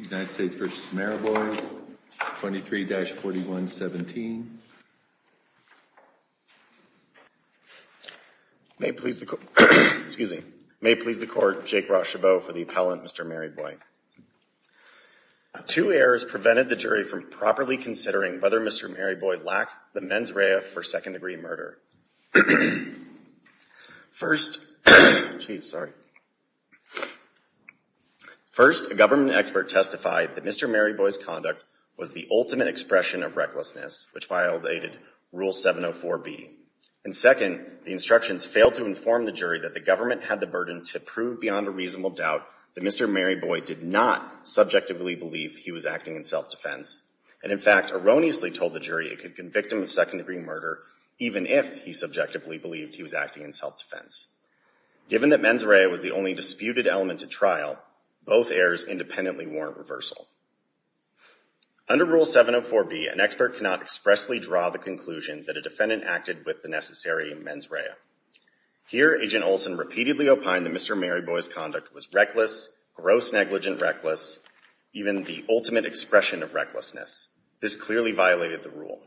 23-4117. May it please the court, Jake Rochebeau for the appellant, Mr. Maryboy. Two errors prevented the jury from properly considering whether Mr. Maryboy lacked the mens rea for second-degree murder. First, a government expert testified that Mr. Maryboy's conduct was the ultimate expression of recklessness, which violated Rule 704B. And second, the instructions failed to inform the jury that the government had the burden to prove beyond a reasonable doubt that Mr. Maryboy did not subjectively believe he was acting in self-defense, and in fact erroneously told the jury it could convict him of second-degree murder even if he subjectively believed he was acting in self-defense. Given that mens rea was the only disputed element at trial, both errors independently warrant reversal. Under Rule 704B, an expert cannot expressly draw the conclusion that a defendant acted with the necessary mens rea. Here, Agent Olson repeatedly opined that Mr. Maryboy's conduct was reckless, gross, negligent, reckless, even the ultimate expression of recklessness. This clearly violated the rule.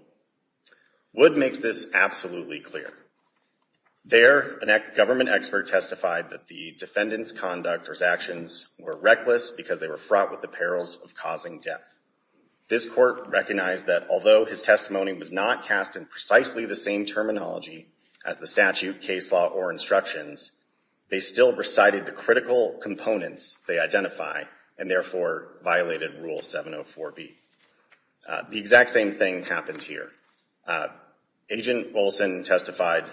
Wood makes this absolutely clear. There, a government expert testified that the defendant's conduct or his actions were reckless because they were fraught with the perils of causing death. This court recognized that although his testimony was not cast in precisely the same terminology as the statute, case law, or instructions, they still recited the critical components they identify and therefore violated Rule 704B. The exact same thing happened here. Agent Olson testified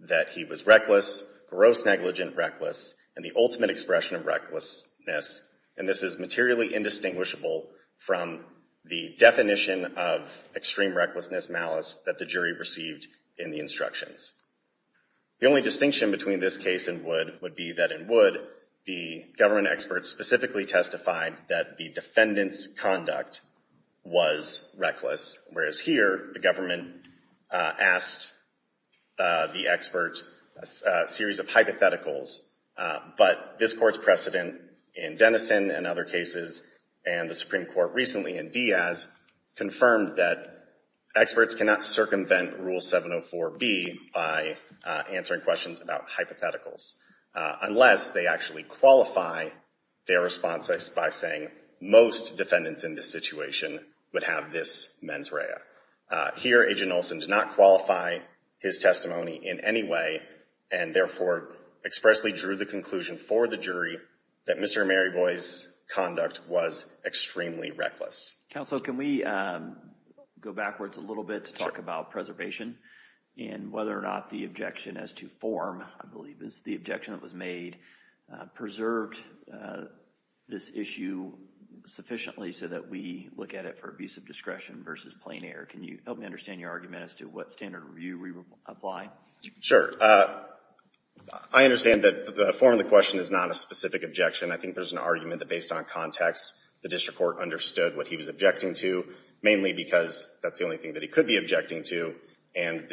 that he was reckless, gross, negligent, reckless, and the ultimate expression of recklessness, and this is materially indistinguishable from the definition of extreme recklessness, malice, that the jury received in the instructions. The only distinction between this case and Wood would be that in Wood, the government expert specifically testified that the defendant's conduct was reckless, whereas here, the government asked the expert a series of hypotheticals, but this court's precedent in Denison and other cases and the Supreme Court recently in Diaz confirmed that experts cannot circumvent Rule 704B answering questions about hypotheticals unless they actually qualify their responses by saying most defendants in this situation would have this mens rea. Here, Agent Olson did not qualify his testimony in any way and therefore expressly drew the conclusion for the jury that Mr. Maryboy's conduct was extremely reckless. Counsel, can we go backwards a little bit to talk about preservation and whether or not the objection as to form, I believe is the objection that was made, preserved this issue sufficiently so that we look at it for abuse of discretion versus plain error? Can you help me understand your argument as to what standard review we would apply? Sure. I understand that the form of the question is not a specific objection. I think there's an argument that based on context, the district court understood what he was objecting to, because that's the only thing that he could be objecting to. And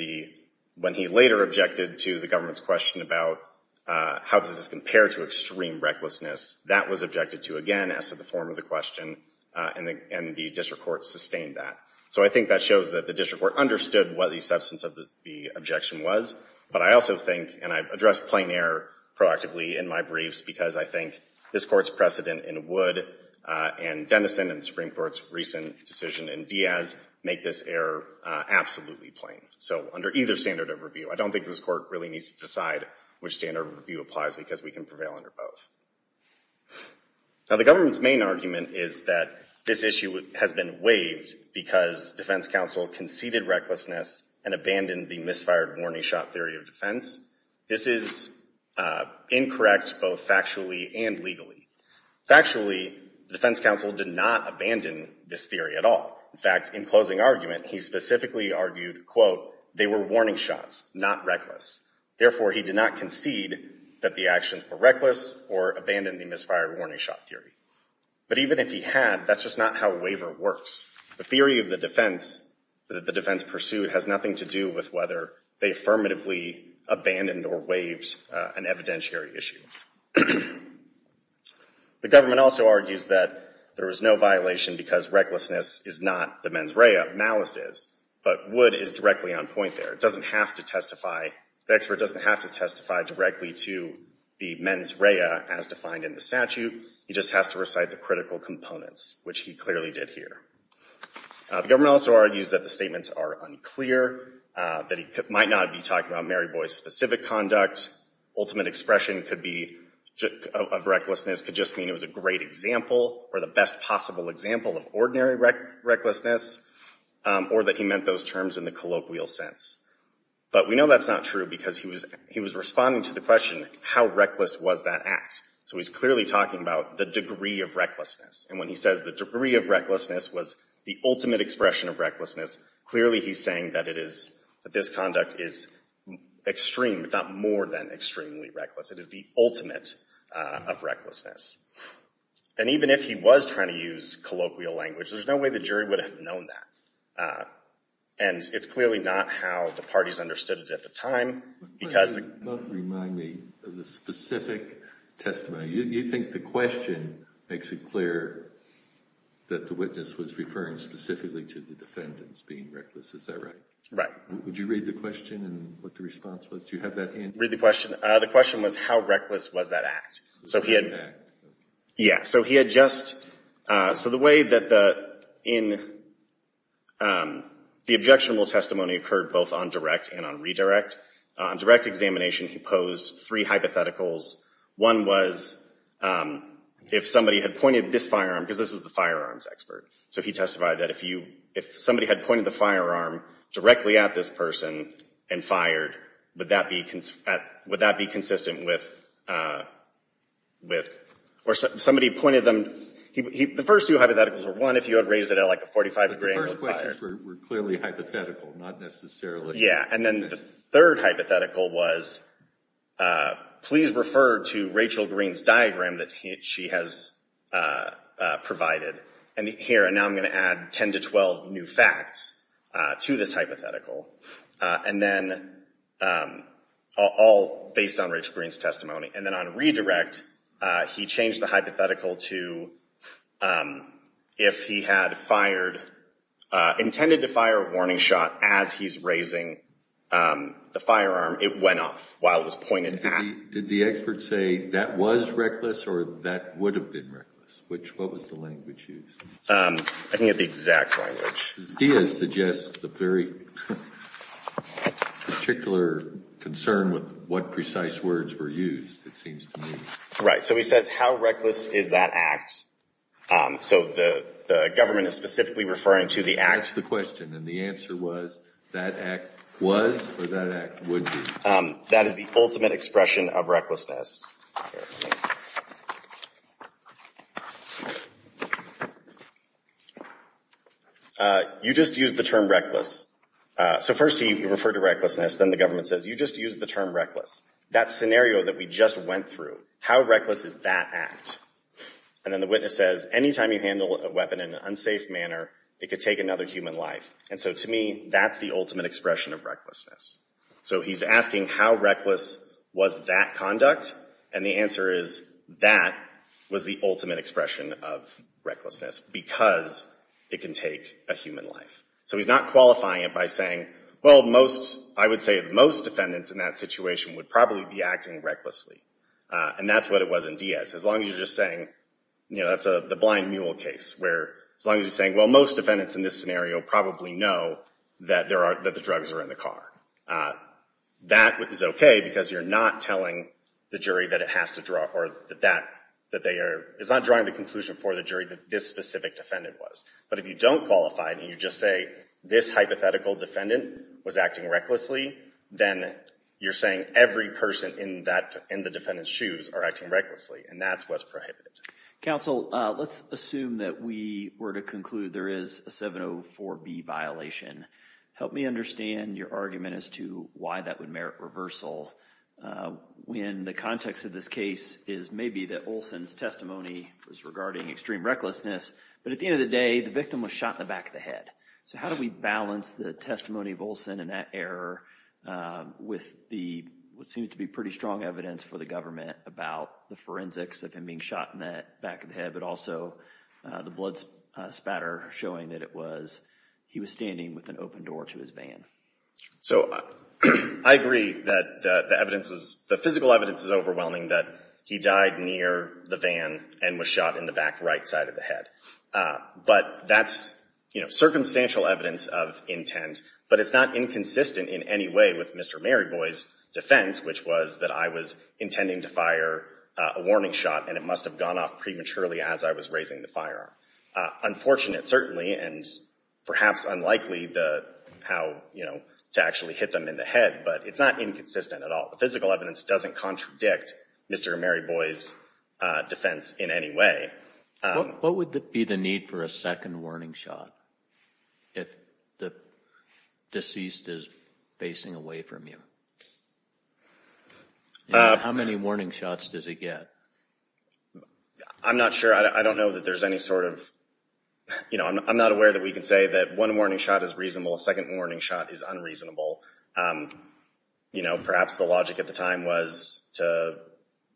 when he later objected to the government's question about how does this compare to extreme recklessness, that was objected to again as to the form of the question and the district court sustained that. So I think that shows that the district court understood what the substance of the objection was. But I also think, and I've addressed plain error proactively in my briefs, because I think this court's precedent in Wood and Dennison and the Supreme Court's recent decision in Diaz make this error absolutely plain. So under either standard of review, I don't think this court really needs to decide which standard review applies, because we can prevail under both. Now, the government's main argument is that this issue has been waived because defense counsel conceded recklessness and abandoned the misfired warning shot theory of defense. This is incorrect both factually and legally. Factually, the defense counsel did not abandon this theory at all. In fact, in closing argument, he specifically argued, quote, they were warning shots, not reckless. Therefore, he did not concede that the actions were reckless or abandoned the misfired warning shot theory. But even if he had, that's just not how a waiver works. The theory of the defense that the defense pursued has nothing to do with whether they affirmatively abandoned or waived an evidentiary issue. The government also argues that there was no violation because recklessness is not the mens rea. Malice is. But Wood is directly on point there. It doesn't have to testify. The expert doesn't have to testify directly to the mens rea as defined in the statute. He just has to recite the critical components, which he clearly did here. The government also argues that the statements are unclear, that he might not be talking about Mary Boy's specific conduct. Ultimate expression could be of recklessness could just mean it was a great example or the best possible example of ordinary recklessness or that he meant those terms in the colloquial sense. But we know that's not true because he was he was responding to the question, how reckless was that act? So he's clearly talking about the degree of recklessness. And when he says the degree of recklessness was the ultimate expression of recklessness, clearly he's saying that it is that this conduct is extreme, but not more than extremely reckless. It is the ultimate of recklessness. And even if he was trying to use colloquial language, there's no way the jury would have known that. And it's clearly not how the parties understood it at the time. Because You both remind me of the specific testimony. You think the question makes it clear that the witness was referring specifically to the defendants being reckless. Is that right? Right. Would you read the question and what the response was? Do you have that in? Read the question. The question was how reckless was that act? So he had. Yeah. So he had just so the way that the in the objectionable testimony occurred both on direct and on redirect direct examination, he posed three hypotheticals. One was if somebody had this firearm, because this was the firearms expert. So he testified that if you if somebody had pointed the firearm directly at this person and fired, would that be would that be consistent with with or somebody pointed them. The first two hypotheticals are one if you had raised it at like a 45 degree angle. The first questions were clearly hypothetical, not necessarily. Yeah. And then the third hypothetical was please refer to Rachel Green's diagram that she has provided here. And now I'm going to add 10 to 12 new facts to this hypothetical. And then all based on Rachel Green's testimony. And then on redirect, he changed the hypothetical to if he had fired intended to fire a warning shot as he's raising the firearm, it went off while it was pointed at. Did the expert say that was reckless or that would have been reckless? Which what was the language used? I think it's the exact language. He is suggests the very particular concern with what precise words were used, it seems to me. Right. So he says how reckless is that act? So the government is specifically referring to the act the question and the answer was that act was or that act would be that is the ultimate expression of recklessness. You just use the term reckless. So first he referred to recklessness. Then the government says you just use the term reckless. That scenario that we just went through, how reckless is that act? And then the witness says anytime you handle a weapon in an unsafe manner, it could take another human life. And so to me, that's the ultimate expression of recklessness. So he's asking how reckless was that conduct? And the answer is that was the ultimate expression of recklessness because it can take a human life. So he's not qualifying it by saying, well, most, I would say most defendants in that situation would probably be acting recklessly. And that's what it was in Diaz. As long as you're just saying, you know, that's the blind mule case where as long as you're saying, well, most defendants in this scenario probably know that there are, that the drugs are in the car. That is okay because you're not telling the jury that it has to draw or that, that they are, it's not drawing the conclusion for the jury that this specific defendant was. But if you don't qualify and you just say this hypothetical defendant was acting recklessly, then you're saying every person in that, in the defendant's shoes are acting recklessly. And that's what's Counsel, let's assume that we were to conclude there is a 704 B violation. Help me understand your argument as to why that would merit reversal. When the context of this case is maybe that Olson's testimony was regarding extreme recklessness, but at the end of the day, the victim was shot in the back of the head. So how do we balance the testimony of Olson and that error with the, what seems to be pretty strong evidence for the about the forensics of him being shot in the back of the head, but also the blood spatter showing that it was, he was standing with an open door to his van. So I agree that the evidence is, the physical evidence is overwhelming that he died near the van and was shot in the back right side of the head. But that's, you know, circumstantial evidence of intent, but it's not inconsistent in any way with Mr. Maryboy's defense, which was that I was intending to fire a warning shot and it must've gone off prematurely as I was raising the firearm. Unfortunate, certainly, and perhaps unlikely the, how, you know, to actually hit them in the head, but it's not inconsistent at all. The physical evidence doesn't contradict Mr. Maryboy's defense in any way. What would be the need for a second warning shot? If the deceased is facing away from you, how many warning shots does he get? I'm not sure. I don't know that there's any sort of, you know, I'm not aware that we can say that one warning shot is reasonable. A second warning shot is unreasonable. You know, perhaps the logic at the time was to,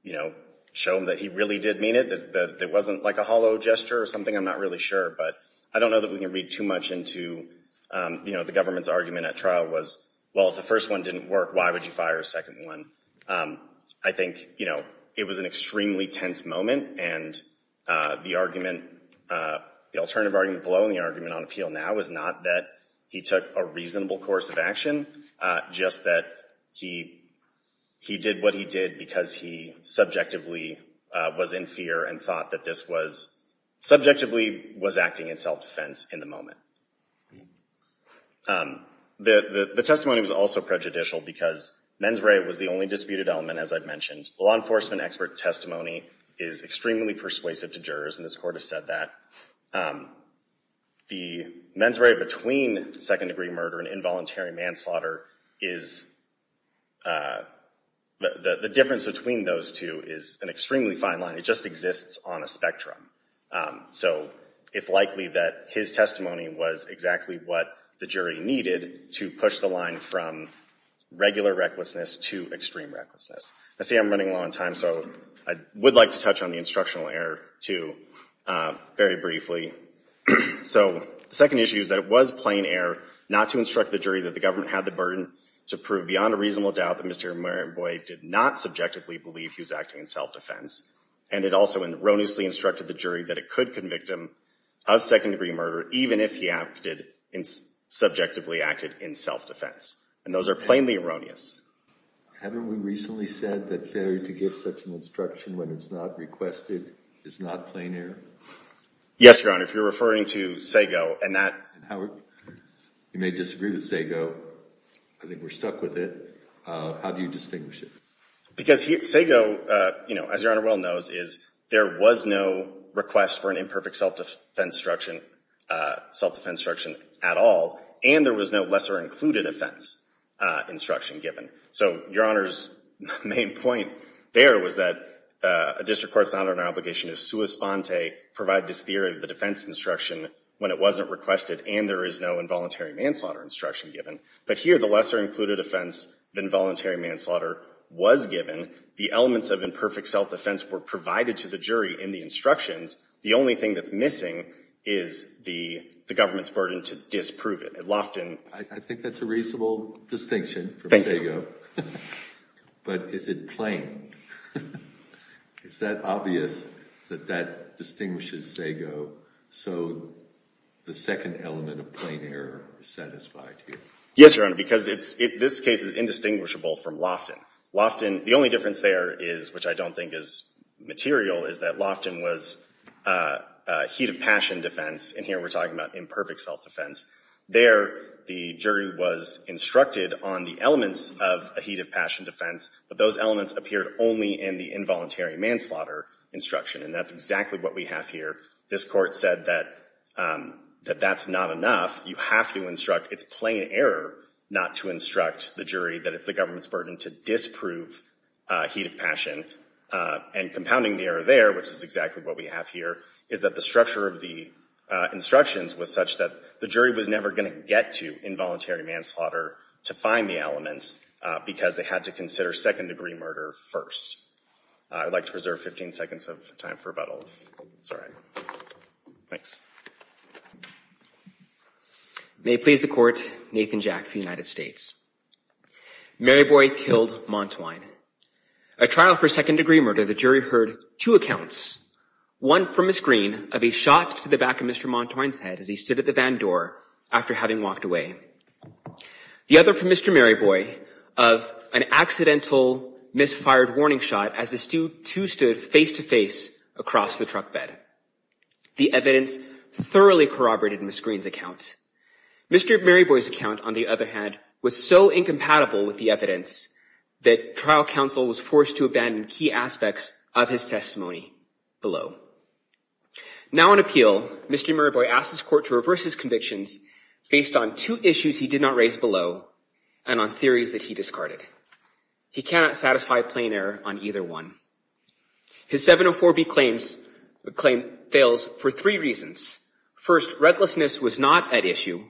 you know, show him that he really did mean it, that it wasn't like a hollow gesture or something. I'm not really sure, but I don't know that we can read too much into, you know, the government's argument at trial was, well, if the first one didn't work, why would you fire a second one? I think, you know, it was an extremely tense moment and the argument, the alternative argument below in the argument on appeal now is not that he took a reasonable course of action, just that he did what he did because he subjectively was in fear and thought that this was subjectively was acting in self-defense in the moment. The testimony was also prejudicial because mens rea was the only disputed element, as I've mentioned. The law enforcement expert testimony is extremely persuasive to jurors, and this court has said that. The mens rea between second-degree murder and involuntary manslaughter is, the difference between those two is an extremely fine line. It just exists on a spectrum, so it's likely that his testimony was exactly what the jury needed to push the line from regular recklessness to extreme recklessness. I see I'm running low on time, so I would like to touch on the instructional error, too, very briefly. So the second issue is that it was plain error not to instruct the jury that the government had the burden to prove beyond a reasonable doubt that Mr. Marenboi did not subjectively believe he was acting in self-defense, and it also erroneously instructed the jury that it could convict him of second-degree murder even if he acted in, subjectively acted in self-defense, and those are plainly erroneous. Haven't we recently said that failure to give such an instruction when it's not requested is not plain error? Yes, Your Honor, if you're referring to Sago, and that, Howard, you may disagree with Sago. I think we're stuck with it. How do you distinguish it? Because Sago, you know, as Your Honor well knows, is there was no request for an imperfect self-defense instruction, self-defense instruction at all, and there was no lesser included offense instruction given. So Your Honor's main point there was that a district court's honor and obligation to sua sponte provide this theory of the defense instruction when it wasn't requested and there is no involuntary manslaughter instruction given, but here the lesser included offense, the involuntary manslaughter was given. The elements of imperfect self-defense were provided to the jury in the instructions. The only thing that's missing is the government's burden to Loftin. I think that's a reasonable distinction from Sago, but is it plain? Is that obvious that that distinguishes Sago so the second element of plain error is satisfied here? Yes, Your Honor, because this case is indistinguishable from Loftin. Loftin, the only difference there is, which I don't think is material, is that Loftin was a heat of passion defense, and here we're talking about imperfect self-defense. There the jury was instructed on the elements of a heat of passion defense, but those elements appeared only in the involuntary manslaughter instruction, and that's exactly what we have here. This court said that that's not enough. You have to instruct. It's plain error not to instruct the jury that it's the government's burden to disprove heat of passion, and compounding the we have here is that the structure of the instructions was such that the jury was never going to get to involuntary manslaughter to find the elements because they had to consider second degree murder first. I would like to preserve 15 seconds of time for rebuttal. Sorry. Thanks. May it please the court, Nathan Jack for the United States. Mary Boy killed Montwine. A trial for second degree murder, the jury heard two accounts. One from Ms. Green of a shot to the back of Mr. Montwine's head as he stood at the van door after having walked away. The other from Mr. Mary Boy of an accidental misfired warning shot as the two stood face to face across the truck bed. The evidence thoroughly corroborated Ms. Green's account. Mr. Mary Boy's account, on the other hand, was so incompatible with the evidence that trial counsel was forced to abandon key aspects of his testimony below. Now on appeal, Mr. Mary Boy asked his court to reverse his convictions based on two issues he did not raise below and on theories that he discarded. He cannot satisfy plain error on either one. His 704B claim fails for three reasons. First, recklessness was not at issue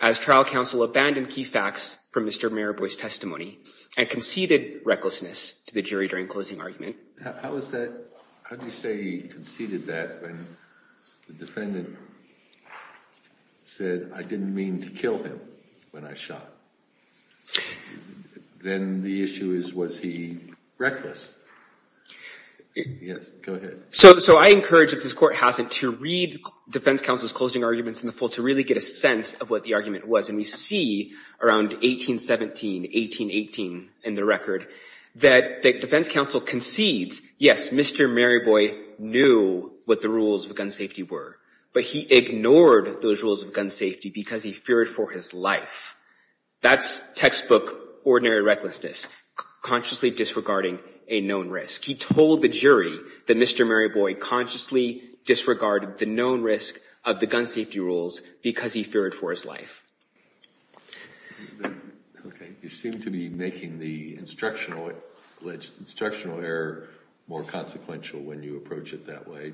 as trial counsel abandoned key facts from Mr. Mary Boy's testimony and conceded recklessness to the jury during closing argument. How was that? How do you say he conceded that when the defendant said I didn't mean to kill him when I shot? And then the issue is was he reckless? Yes, go ahead. So I encourage, if this court hasn't, to read defense counsel's closing arguments in the full to really get a sense of what the argument was. And we see around 1817, 1818 in the record, that the defense counsel concedes, yes, Mr. Mary Boy knew what the rules of gun safety were, but he ignored those rules of gun safety because he feared for his life. That's textbook ordinary recklessness, consciously disregarding a known risk. He told the jury that Mr. Mary Boy consciously disregarded the known risk of the gun safety rules because he feared for his life. Okay, you seem to be making the instructional error more consequential when you approach it that way.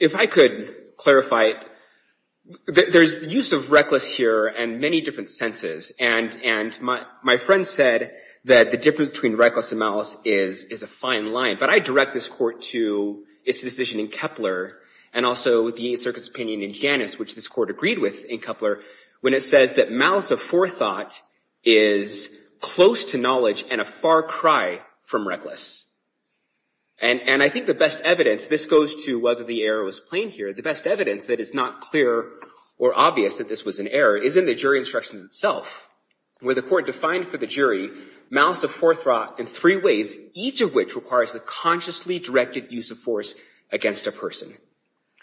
If I could clarify, there's use of reckless here and many different senses. And my friend said that the difference between reckless and malice is a fine line. But I direct this court to its decision in Kepler and also the Eighth Circuit's opinion in Janus, which this court agreed with in Kepler, when it says that malice of forethought is close to knowledge and a far cry from reckless. And I think the best evidence, this goes to whether the error was plain here, the best evidence that is not clear or obvious that this was an error is in the jury instruction itself, where the court defined for the jury malice of forethought in three ways, each of which requires a consciously directed use of force against a person.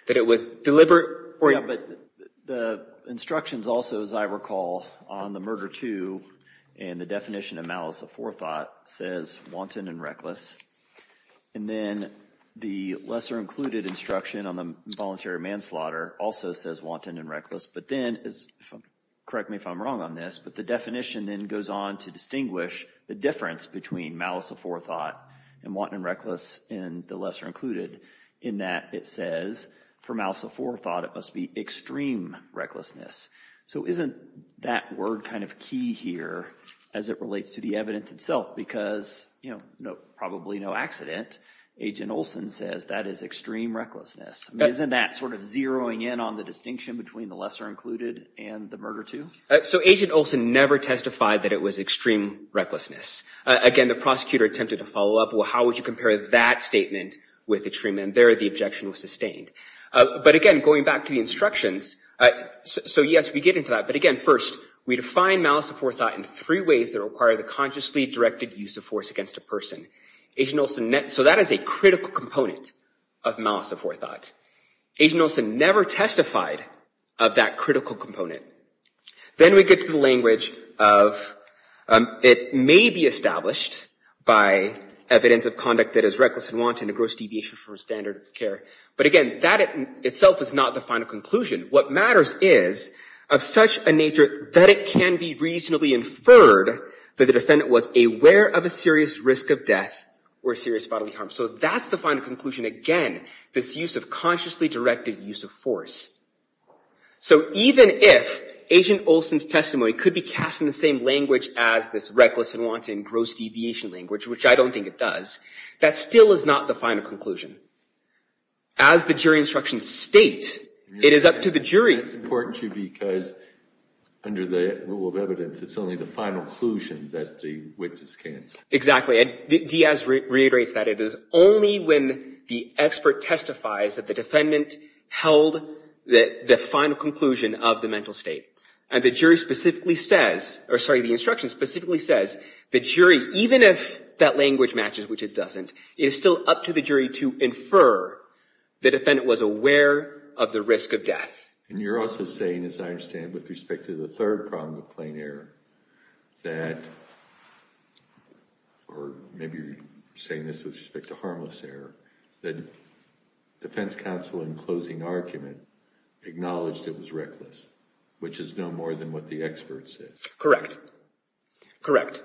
That it was deliberate. Yeah, but the instructions also, as I recall, on the murder too, and the definition of malice of forethought says wanton and reckless. And then the lesser included instruction on the voluntary manslaughter also says wanton and reckless. But then, correct me if I'm wrong on this, but the definition then goes on to distinguish the difference between malice of forethought and wanton and reckless in the lesser included, in that it says for malice of forethought it must be recklessness. So isn't that word kind of key here as it relates to the evidence itself? Because, you know, probably no accident, Agent Olson says that is extreme recklessness. Isn't that sort of zeroing in on the distinction between the lesser included and the murder too? So Agent Olson never testified that it was extreme recklessness. Again, the prosecutor attempted to follow up, well, how would you compare that statement with the treatment there? The objection was sustained. But again, going back to the instructions, so yes, we get into that. But again, first, we define malice of forethought in three ways that require the consciously directed use of force against a person. Agent Olson, so that is a critical component of malice of forethought. Agent Olson never testified of that critical component. Then we get to the language of, it may be established by evidence of conduct that is reckless and wanton, a gross deviation from standard of care. But again, that itself is not the final conclusion. What matters is of such a nature that it can be reasonably inferred that the defendant was aware of a serious risk of death or serious bodily harm. So that's the final conclusion. Again, this use of consciously directed use of force. So even if Agent Olson's testimony could be cast in the same language as this reckless and wanton gross deviation language, which I don't think it does, that still is not the final conclusion. As the jury instructions state, it is up to the jury. It's important to you because under the rule of evidence, it's only the final conclusion that the witnesses can. Exactly. Diaz reiterates that it is only when the expert testifies that the defendant held the final conclusion of the mental state. And the jury says, or sorry, the instruction specifically says, the jury, even if that language matches, which it doesn't, it is still up to the jury to infer the defendant was aware of the risk of death. And you're also saying, as I understand, with respect to the third problem of plain error, that, or maybe you're saying this with respect to harmless error, that defense counsel in closing argument acknowledged it was reckless, which is no more than what the expert said. Correct. Correct.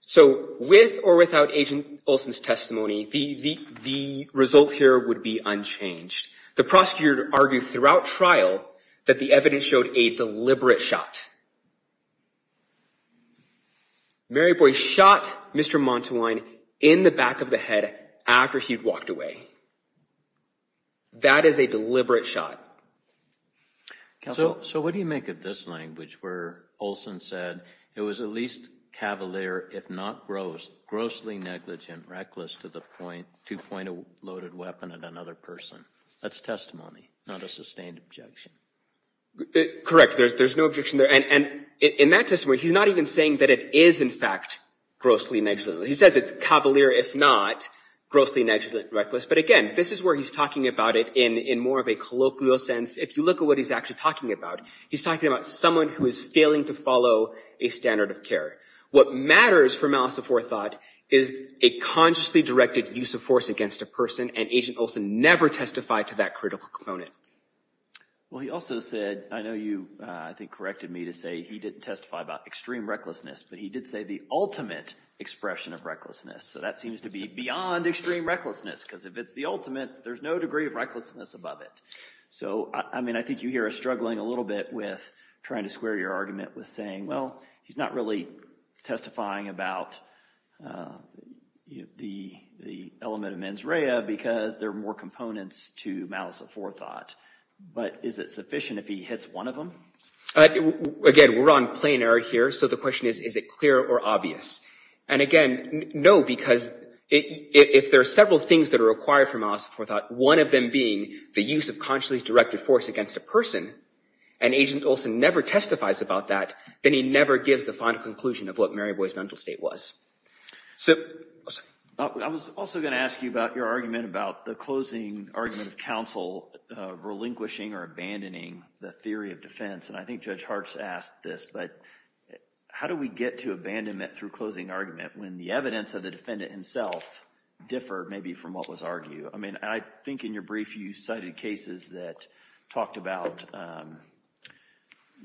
So with or without Agent Olson's testimony, the result here would be unchanged. The prosecutor argued throughout trial that the evidence showed a deliberate shot. Mary Boy shot Mr. Montawine in the back of the head after he'd walked away. That is a deliberate shot. Counsel, so what do you make of this language where Olson said it was at least cavalier, if not gross, grossly negligent, reckless to the point, to point a loaded weapon at another person? That's testimony, not a sustained objection. Correct. There's no objection there. And in that testimony, he's not even saying that it is, in fact, grossly negligent. He says it's cavalier, if not grossly negligent, reckless, but again, this is where he's talking about it in more of a colloquial sense. If you look at what he's actually talking about, he's talking about someone who is failing to follow a standard of care. What matters for Malice Before Thought is a consciously directed use of force against a person, and Agent Olson never testified to that critical component. Well, he also said, I know you, I think, corrected me to say he didn't testify about extreme recklessness, but he did say the ultimate expression of recklessness. So that seems to be extreme recklessness, because if it's the ultimate, there's no degree of recklessness above it. So, I mean, I think you hear us struggling a little bit with trying to square your argument with saying, well, he's not really testifying about the element of mens rea because there are more components to Malice Before Thought. But is it sufficient if he hits one of them? Again, we're on planar here, so the question is, is it clear or obvious? And again, no, because if there are several things that are required for Malice Before Thought, one of them being the use of consciously directed force against a person, and Agent Olson never testifies about that, then he never gives the final conclusion of what Mary Boy's mental state was. I was also going to ask you about your argument about the closing argument of counsel relinquishing or abandoning the theory of defense. And I think Judge Hartz asked this, but how do we get to abandonment through closing argument when the evidence of the defendant himself differed maybe from what was argued? I mean, I think in your brief, you cited cases that talked about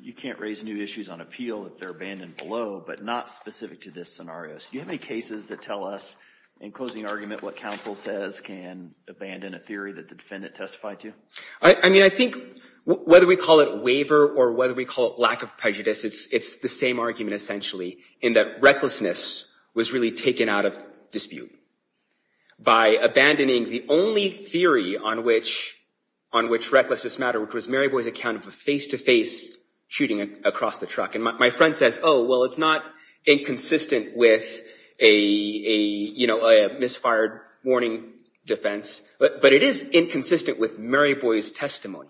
you can't raise new issues on appeal if they're abandoned below, but not specific to this scenario. So do you have any cases that tell us in closing argument what counsel says can abandon a theory that the defendant testified to? I mean, I think whether we call it waiver or whether we call it lack of prejudice, it's the same argument, essentially, in that recklessness was really taken out of dispute by abandoning the only theory on which recklessness mattered, which was Mary Boy's account of a face-to-face shooting across the truck. And my friend says, oh, well, it's not inconsistent with a misfired warning defense, but it is inconsistent with Mary Boy's testimony.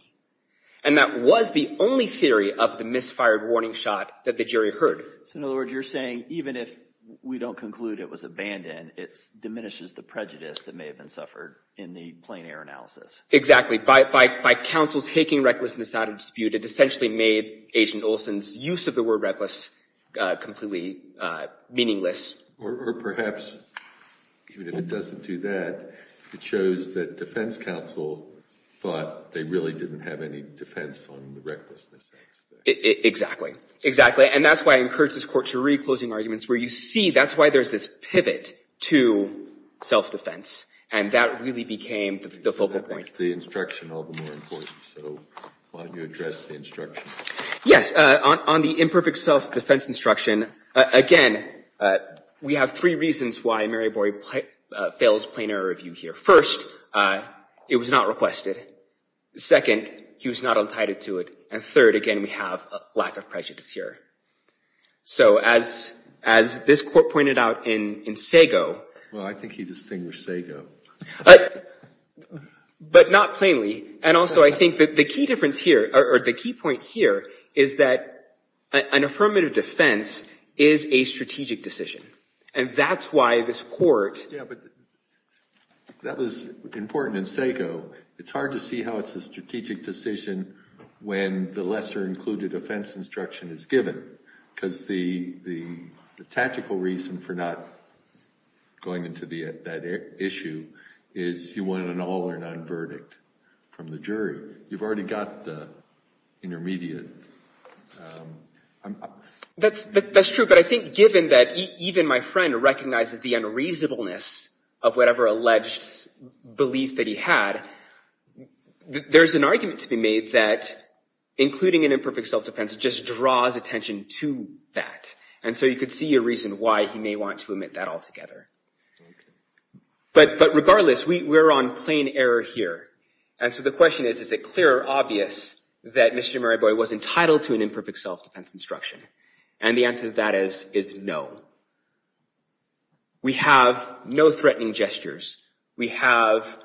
And that was the only theory of the misfired warning shot that the jury heard. So in other words, you're saying even if we don't conclude it was abandoned, it diminishes the prejudice that may have been suffered in the plain air analysis. Exactly. By counsel's taking recklessness out of dispute, it essentially made Agent Olson's use of the word reckless completely meaningless. Or perhaps, even if it doesn't do that, it shows that defense counsel thought they really didn't have any defense on the recklessness aspect. Exactly. Exactly. And that's why I encourage this court to reclose arguments where you see that's why there's this pivot to self-defense. And that really became the focal point. The instruction all the more important. So why don't you address the instruction? Yes. On the imperfect self-defense instruction, again, we have three reasons why Mary Boy fails plain air review here. First, it was not requested. Second, he was not untitled to it. And third, again, we have a lack of prejudice here. So as this court pointed out in Sago... Well, I think he distinguished Sago. But not plainly. And also, I think that the key difference here or the key point here is that an affirmative defense is a strategic decision. And that's why this court... That was important in Sago. It's hard to see how it's a strategic decision when the lesser included offense instruction is given. Because the tactical reason for not going into that issue is you want an all or none verdict from the jury. You've already got the intermediate. That's true. But I think given that even my friend recognizes the unreasonableness of whatever alleged belief that he had, there's an argument to be made that including an imperfect self-defense just draws attention to that. And so you could see a reason why he may want to omit that altogether. But regardless, we're on plain error here. And so the question is, is it clear or obvious that Mr. Mariboy was entitled to an imperfect self-defense instruction? And the answer to that is no. We have no threatening gestures. We have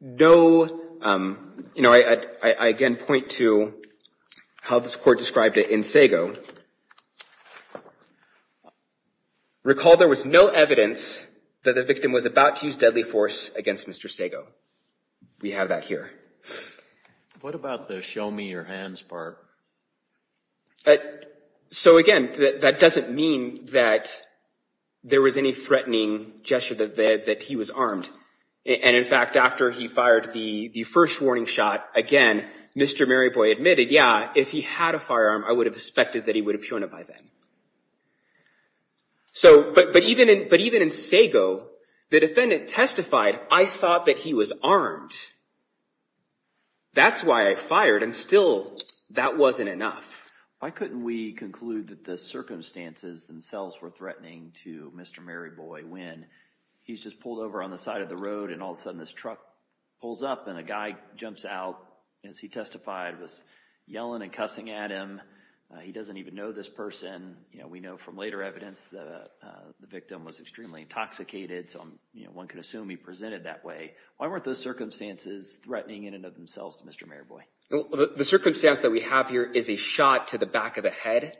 no... You know, I again point to how this court described it in Sago. Recall there was no evidence that the victim was about to use deadly force against Mr. Sago. We have that here. What about the show me your hands part? So again, that doesn't mean that there was any threatening gesture that he was armed. And in fact, after he fired the first warning shot, again, Mr. Mariboy admitted, yeah, if he had a firearm, I would have expected that he would have shown it by then. So, but even in Sago, the defendant testified, I thought that he was armed. That's why I fired. And still, that wasn't enough. Why couldn't we conclude that the circumstances themselves were threatening to Mr. Mariboy when he's just pulled over on the side of the road and all of a sudden this truck pulls up and a guy you know, we know from later evidence that the victim was extremely intoxicated. So, you know, one could assume he presented that way. Why weren't those circumstances threatening in and of themselves to Mr. Mariboy? The circumstance that we have here is a shot to the back of the head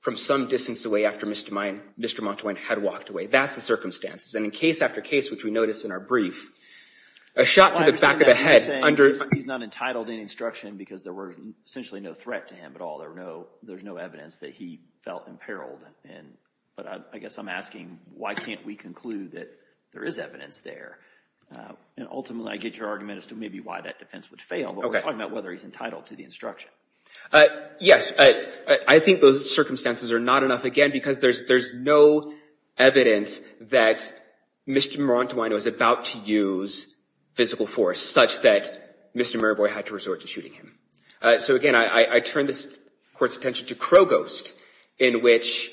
from some distance away after Mr. Montoyne had walked away. That's the circumstances. And in case after case, which we notice in our brief, a shot to the back of the head under... He's not entitled in instruction because there were essentially no threat to him at all. There's no evidence that he felt imperiled. And but I guess I'm asking, why can't we conclude that there is evidence there? And ultimately, I get your argument as to maybe why that defense would fail, but we're talking about whether he's entitled to the instruction. Yes, I think those circumstances are not enough again, because there's no evidence that Mr. Montoyne was about to use physical force such that Mr. Mariboy had to resort to shooting him. So again, I turn this court's attention to Krogost, in which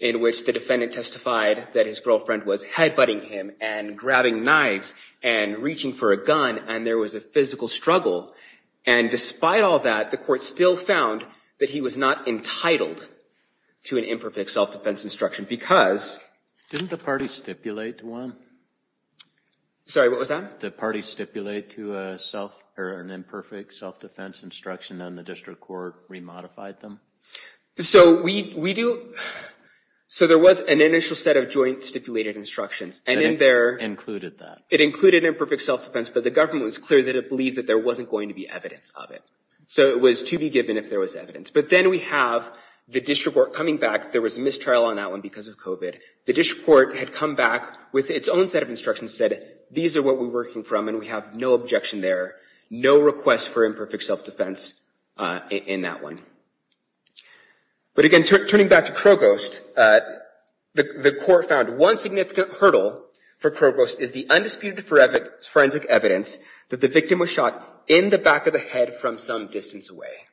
the defendant testified that his girlfriend was headbutting him and grabbing knives and reaching for a gun, and there was a physical struggle. And despite all that, the court still found that he was not entitled to an imperfect self-defense instruction because... Didn't the party stipulate one? Sorry, what was that? The party stipulate to an imperfect self-defense instruction, and the district court remodified them? So we do... So there was an initial set of joint stipulated instructions, and in there... Included that. It included imperfect self-defense, but the government was clear that it believed that there wasn't going to be evidence of it. So it was to be given if there was evidence. But then we have the district court coming back. There was a mistrial on that one because of COVID. The district court had come back with its own set of instructions, and said, these are what we're working from, and we have no objection there. No request for imperfect self-defense in that one. But again, turning back to Krogost, the court found one significant hurdle for Krogost is the undisputed forensic evidence that the victim was shot in the back of the head from some distance away.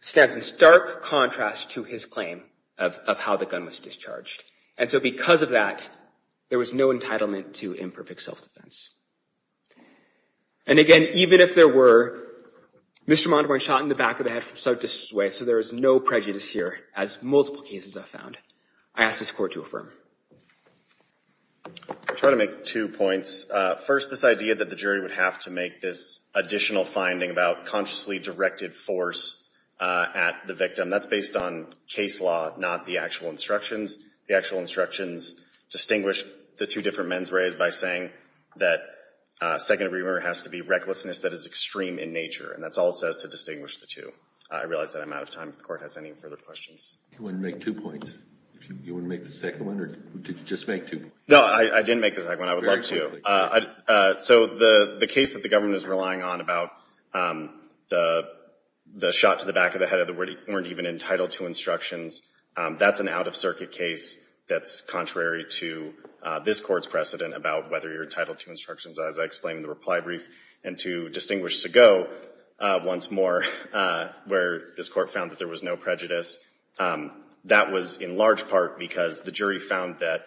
Stands in stark contrast to his claim of how the gun was discharged. And so because of that, there was no entitlement to imperfect self-defense. And again, even if there were, Mr. Montemarie shot in the back of the head from some distance away. So there is no prejudice here, as multiple cases have found. I ask this court to affirm. I try to make two points. First, this idea that the jury would have to make this additional finding about consciously directed force at the victim. That's based on case law, not the actual instructions. The actual instructions distinguish the two different men's ways by saying that second degree murder has to be recklessness that is extreme in nature. And that's all it says to distinguish the two. I realize that I'm out of time. If the court has any further questions. You wouldn't make two points? You wouldn't make the second one? Or did you just make two? No, I didn't make the second one. I would love to. So the case that the government is relying on about the shot to the back of the head that weren't even entitled to instructions, that's an out-of-circuit case that's contrary to this court's precedent about whether you're entitled to instructions, as I explained in the reply brief. And to distinguish to go once more, where this court found that there was no prejudice, that was in large part because the jury found that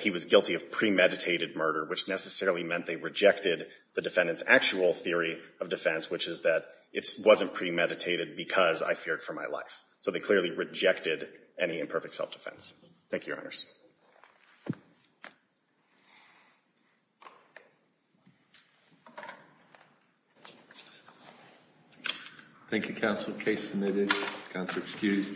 he was guilty of premeditated murder, which necessarily meant they rejected the defendant's actual theory of defense, which is that it wasn't premeditated because I feared for my life. So they clearly rejected any imperfect self-defense. Thank you, Your Honors. Thank you, counsel. Case submitted. Counsel excused.